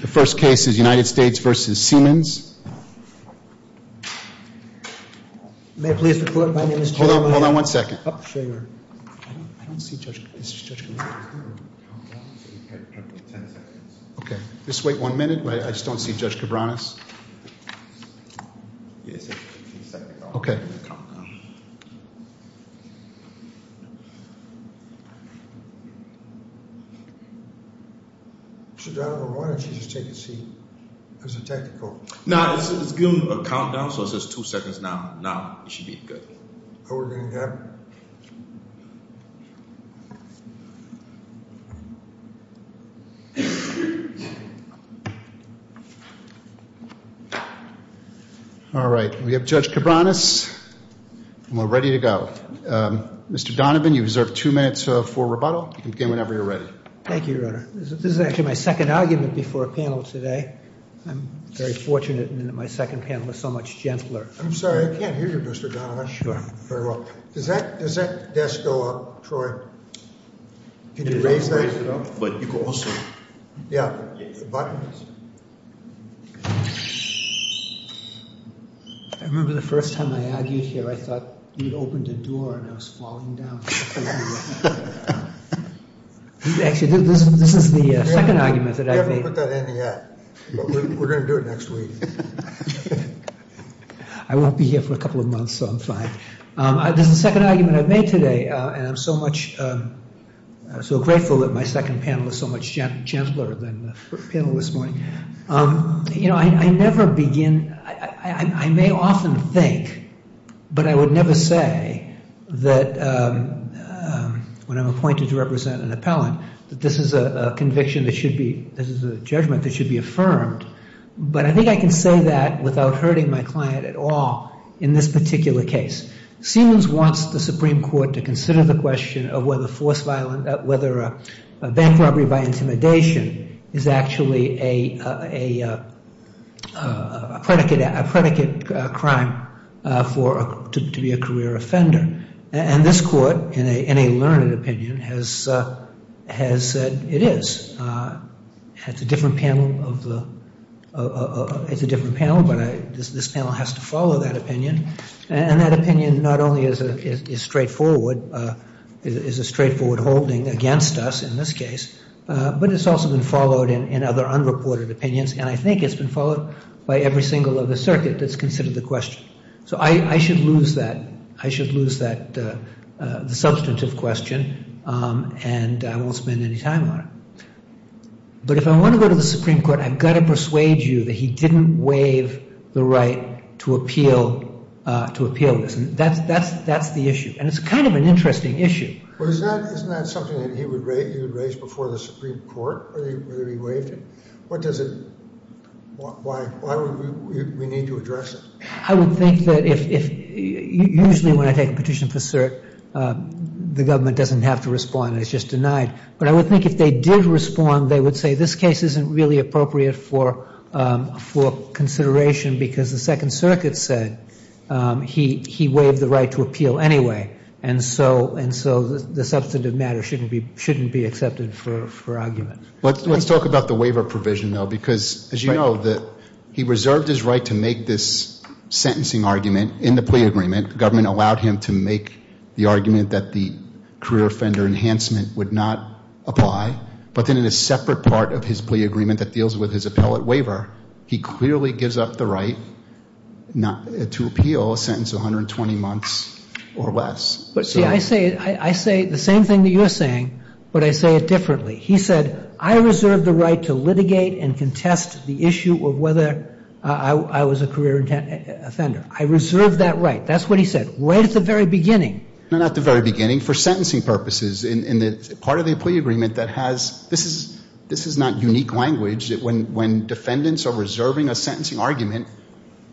The first case is United States v. Siemens. May I please report, my name is Joe, my name is... Hold on, hold on one second. I don't see Judge Cabranes there. Okay, just wait one minute. I just don't see Judge Cabranes. Okay. So, Donovan, why don't you just take a seat, it's a technical. No, it's giving a countdown, so it says two seconds now, now, it should be good. All right, we have Judge Cabranes, and we're ready to go. Mr. Donovan, you deserve two minutes for rebuttal. You can begin whenever you're ready. Thank you, Your Honor. This is actually my second argument before a panel today. I'm very fortunate in that my second panel is so much gentler. I'm sorry, I can't hear you, Mr. Donovan. I'm not sure. Very well. Does that desk go up, Troy? Can you raise that? You can raise it up, but you can also... Yeah, the buttons. I remember the first time I argued here, I thought you'd opened a door and I was falling down. Actually, this is the second argument that I've made. We haven't put that in yet, but we're going to do it next week. I won't be here for a couple of months, so I'm fine. This is the second argument I've made today, and I'm so grateful that my second panel is so much gentler than the panel this morning. You know, I never begin... I may often think, but I would never say that when I'm appointed to represent an appellant, that this is a conviction that should be... this is a judgment that should be affirmed. But I think I can say that without hurting my client at all in this particular case. Siemens wants the Supreme Court to consider the question of whether force violence... whether bank robbery by intimidation is actually a predicate crime to be a career offender. And this court, in a learned opinion, has said it is. It's a different panel, but this panel has to follow that opinion. And that opinion not only is straightforward, is a straightforward holding against us in this case, but it's also been followed in other unreported opinions, and I think it's been followed by every single other circuit that's considered the question. So I should lose that substantive question, and I won't spend any time on it. But if I want to go to the Supreme Court, I've got to persuade you that he didn't waive the right to appeal this. That's the issue, and it's kind of an interesting issue. Well, isn't that something that he would raise before the Supreme Court, whether he waived it? What does it... why would we need to address it? I would think that if... usually when I take a petition for cert, the government doesn't have to respond. It's just denied. But I would think if they did respond, they would say this case isn't really appropriate for consideration because the Second Circuit said he waived the right to appeal anyway, and so the substantive matter shouldn't be accepted for argument. Let's talk about the waiver provision, though, because as you know, he reserved his right to make this sentencing argument in the plea agreement. The government allowed him to make the argument that the career offender enhancement would not apply, but then in a separate part of his plea agreement that deals with his appellate waiver, he clearly gives up the right to appeal a sentence of 120 months or less. See, I say the same thing that you're saying, but I say it differently. He said, I reserved the right to litigate and contest the issue of whether I was a career offender. I reserved that right. That's what he said right at the very beginning. No, not at the very beginning. For sentencing purposes, in the part of the plea agreement that has... this is not unique language that when defendants are reserving a sentencing argument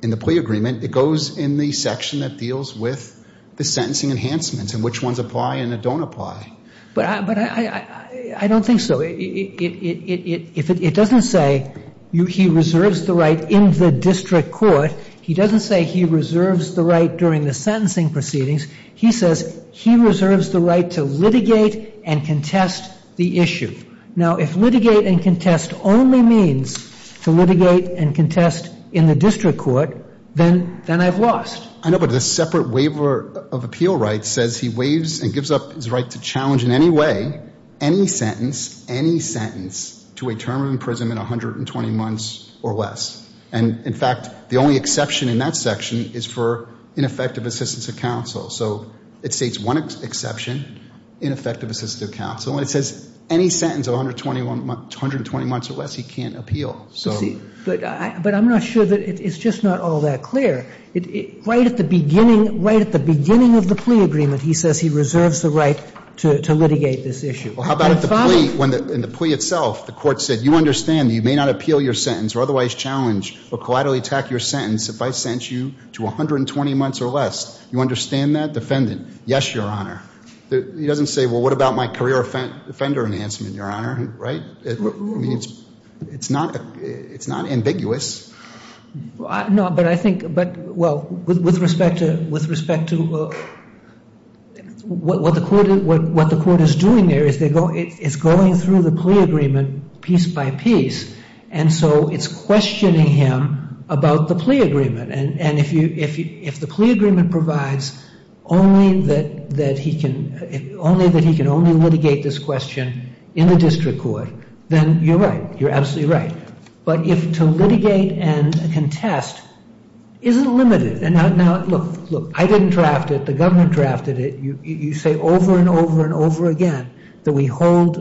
in the plea agreement, it goes in the section that deals with the sentencing enhancements and which ones apply and that don't apply. But I don't think so. It doesn't say he reserves the right in the district court. He doesn't say he reserves the right during the sentencing proceedings. He says he reserves the right to litigate and contest the issue. Now, if litigate and contest only means to litigate and contest in the district court, then I've lost. I know, but the separate waiver of appeal right says he waives and gives up his right to challenge in any way, any sentence, any sentence to a term of imprisonment, 120 months or less. And, in fact, the only exception in that section is for ineffective assistance of counsel. So it states one exception, ineffective assistance of counsel, and it says any sentence of 120 months or less he can't appeal. But I'm not sure that it's just not all that clear. Right at the beginning, right at the beginning of the plea agreement, he says he reserves the right to litigate this issue. Well, how about at the plea? In the plea itself, the court said you understand that you may not appeal your sentence or otherwise challenge or collaterally attack your sentence if I sentence you to 120 months or less. You understand that, defendant? Yes, Your Honor. He doesn't say, well, what about my career offender enhancement, Your Honor, right? It's not ambiguous. No, but I think, well, with respect to what the court is doing there is it's going through the plea agreement piece by piece. And so it's questioning him about the plea agreement. And if the plea agreement provides only that he can only litigate this question in the district court, then you're right. You're absolutely right. But to litigate and contest isn't limited. Now, look, I didn't draft it. The government drafted it. You say over and over and over again that we hold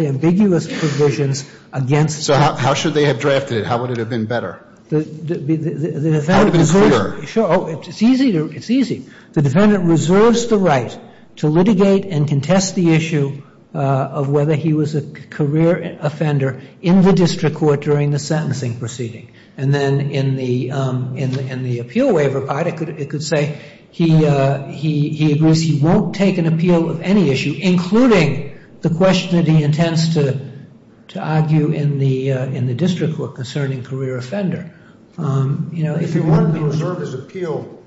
ambiguous provisions against. So how should they have drafted it? How would it have been better? How would it have been clearer? Sure. It's easy. It's easy. The defendant reserves the right to litigate and contest the issue of whether he was a career offender in the district court during the sentencing proceeding. And then in the appeal waiver part, it could say he agrees he won't take an appeal of any issue, including the question that he intends to argue in the district court concerning career offender. If he wanted to reserve his appeal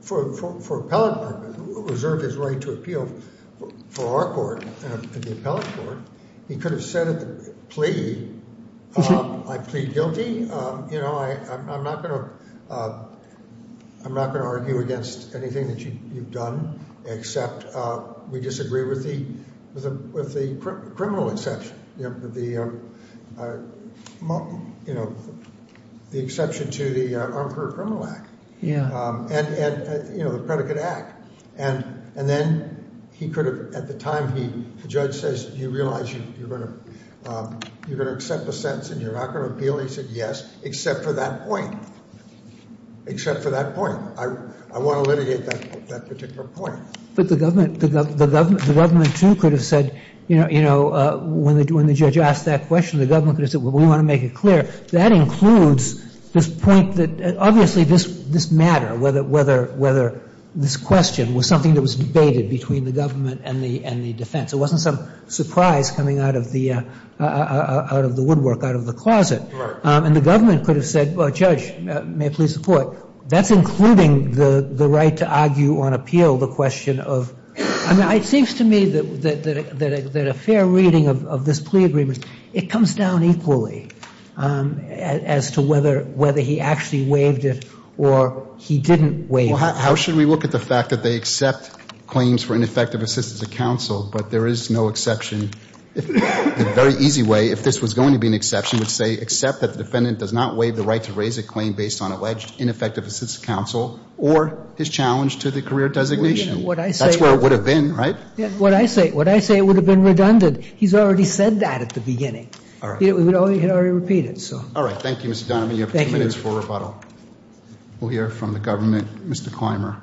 for appellate purposes, reserve his right to appeal for our court and the appellate court, he could have said at the plea, I plead guilty. You know, I'm not going to argue against anything that you've done, except we disagree with the criminal exception. You know, the exception to the Armed Career Criminal Act. Yeah. And, you know, the Predicate Act. And then he could have, at the time, the judge says, do you realize you're going to accept the sentence and you're not going to appeal? And he said, yes, except for that point. Except for that point. I want to litigate that particular point. But the government too could have said, you know, when the judge asked that question, the government could have said, well, we want to make it clear. That includes this point that obviously this matter, whether this question was something that was debated between the government and the defense. It wasn't some surprise coming out of the woodwork, out of the closet. Right. And the government could have said, well, Judge, may I please support? That's including the right to argue on appeal, the question of – I mean, it seems to me that a fair reading of this plea agreement, it comes down equally as to whether he actually waived it or he didn't waive it. Well, how should we look at the fact that they accept claims for ineffective assistance of counsel, but there is no exception? The very easy way, if this was going to be an exception, would say accept that the defendant does not waive the right to raise a claim based on alleged ineffective assistance of counsel or his challenge to the career designation. That's where it would have been, right? What I say, it would have been redundant. He's already said that at the beginning. All right. He had already repeated it, so. All right. Thank you, Mr. Donovan. You have two minutes for rebuttal. We'll hear from the government. Mr. Clymer.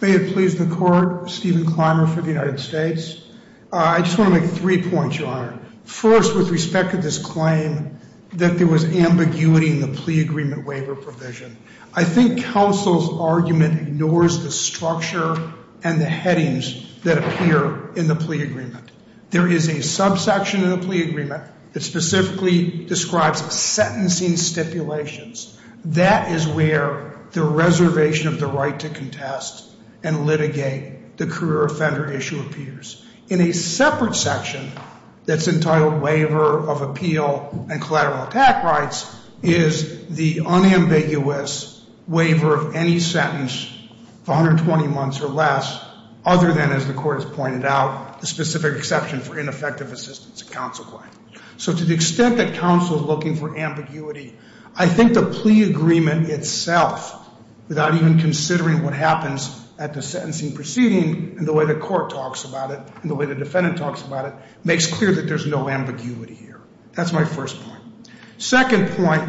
May it please the Court, Stephen Clymer for the United States. I just want to make three points, Your Honor. First, with respect to this claim, that there was ambiguity in the plea agreement waiver provision. I think counsel's argument ignores the structure and the headings that appear in the plea agreement. There is a subsection of the plea agreement that specifically describes sentencing stipulations. That is where the reservation of the right to contest and litigate the career offender issue appears. In a separate section that's entitled waiver of appeal and collateral attack rights is the unambiguous waiver of any sentence of 120 months or less, other than, as the Court has pointed out, the specific exception for ineffective assistance in counsel claim. So to the extent that counsel is looking for ambiguity, I think the plea agreement itself, without even considering what happens at the sentencing proceeding and the way the court talks about it and the way the defendant talks about it, makes clear that there's no ambiguity here. That's my first point. Second point,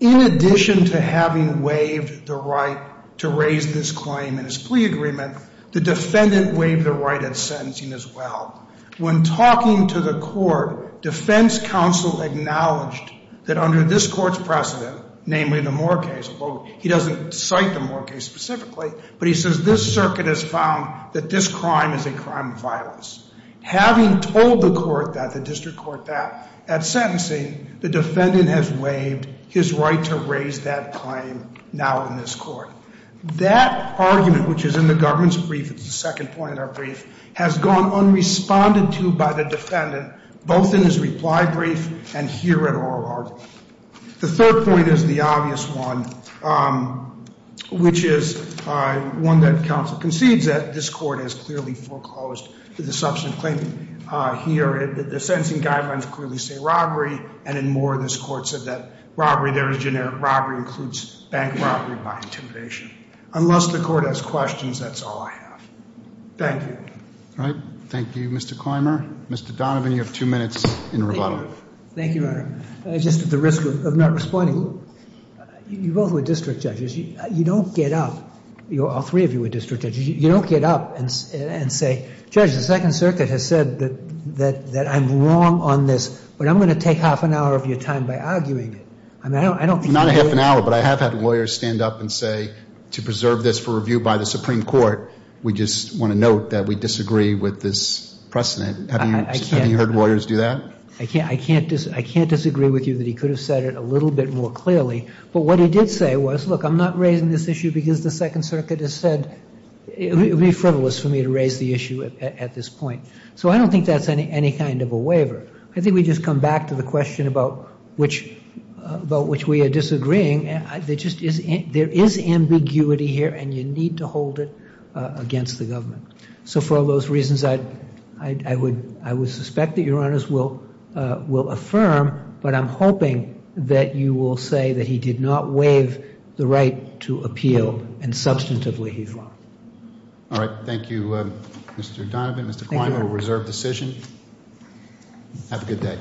in addition to having waived the right to raise this claim in his plea agreement, the defendant waived the right at sentencing as well. When talking to the court, defense counsel acknowledged that under this court's precedent, namely the Moore case, although he doesn't cite the Moore case specifically, but he says this circuit has found that this crime is a crime of violence. Having told the court that, the district court that, at sentencing, the defendant has waived his right to raise that claim now in this court. That argument, which is in the government's brief, it's the second point in our brief, has gone unresponded to by the defendant, both in his reply brief and here at oral argument. The third point is the obvious one, which is one that counsel concedes that this court has clearly foreclosed the substantive claim here. The sentencing guidelines clearly say robbery, and in Moore, this court said that robbery, there is generic robbery, includes bank robbery by intimidation. Unless the court has questions, that's all I have. Thank you. All right. Thank you, Mr. Clymer. Mr. Donovan, you have two minutes in rebuttal. Thank you, Your Honor. Just at the risk of not responding, you both were district judges. You don't get up, all three of you were district judges. You don't get up and say, Judge, the Second Circuit has said that I'm wrong on this, but I'm going to take half an hour of your time by arguing it. I mean, I don't think you would. Not a half an hour, but I have had lawyers stand up and say, to preserve this for review by the Supreme Court, we just want to note that we disagree with this precedent. Have you heard lawyers do that? I can't disagree with you that he could have said it a little bit more clearly. But what he did say was, look, I'm not raising this issue because the Second Circuit has said it would be frivolous for me to raise the issue at this point. So I don't think that's any kind of a waiver. I think we just come back to the question about which we are disagreeing. There is ambiguity here, and you need to hold it against the government. So for all those reasons, I would suspect that Your Honors will affirm, but I'm hoping that you will say that he did not waive the right to appeal, and substantively he's wrong. All right, thank you, Mr. Donovan. Thank you, Your Honor. Mr. Kline will reserve decision. Have a good day.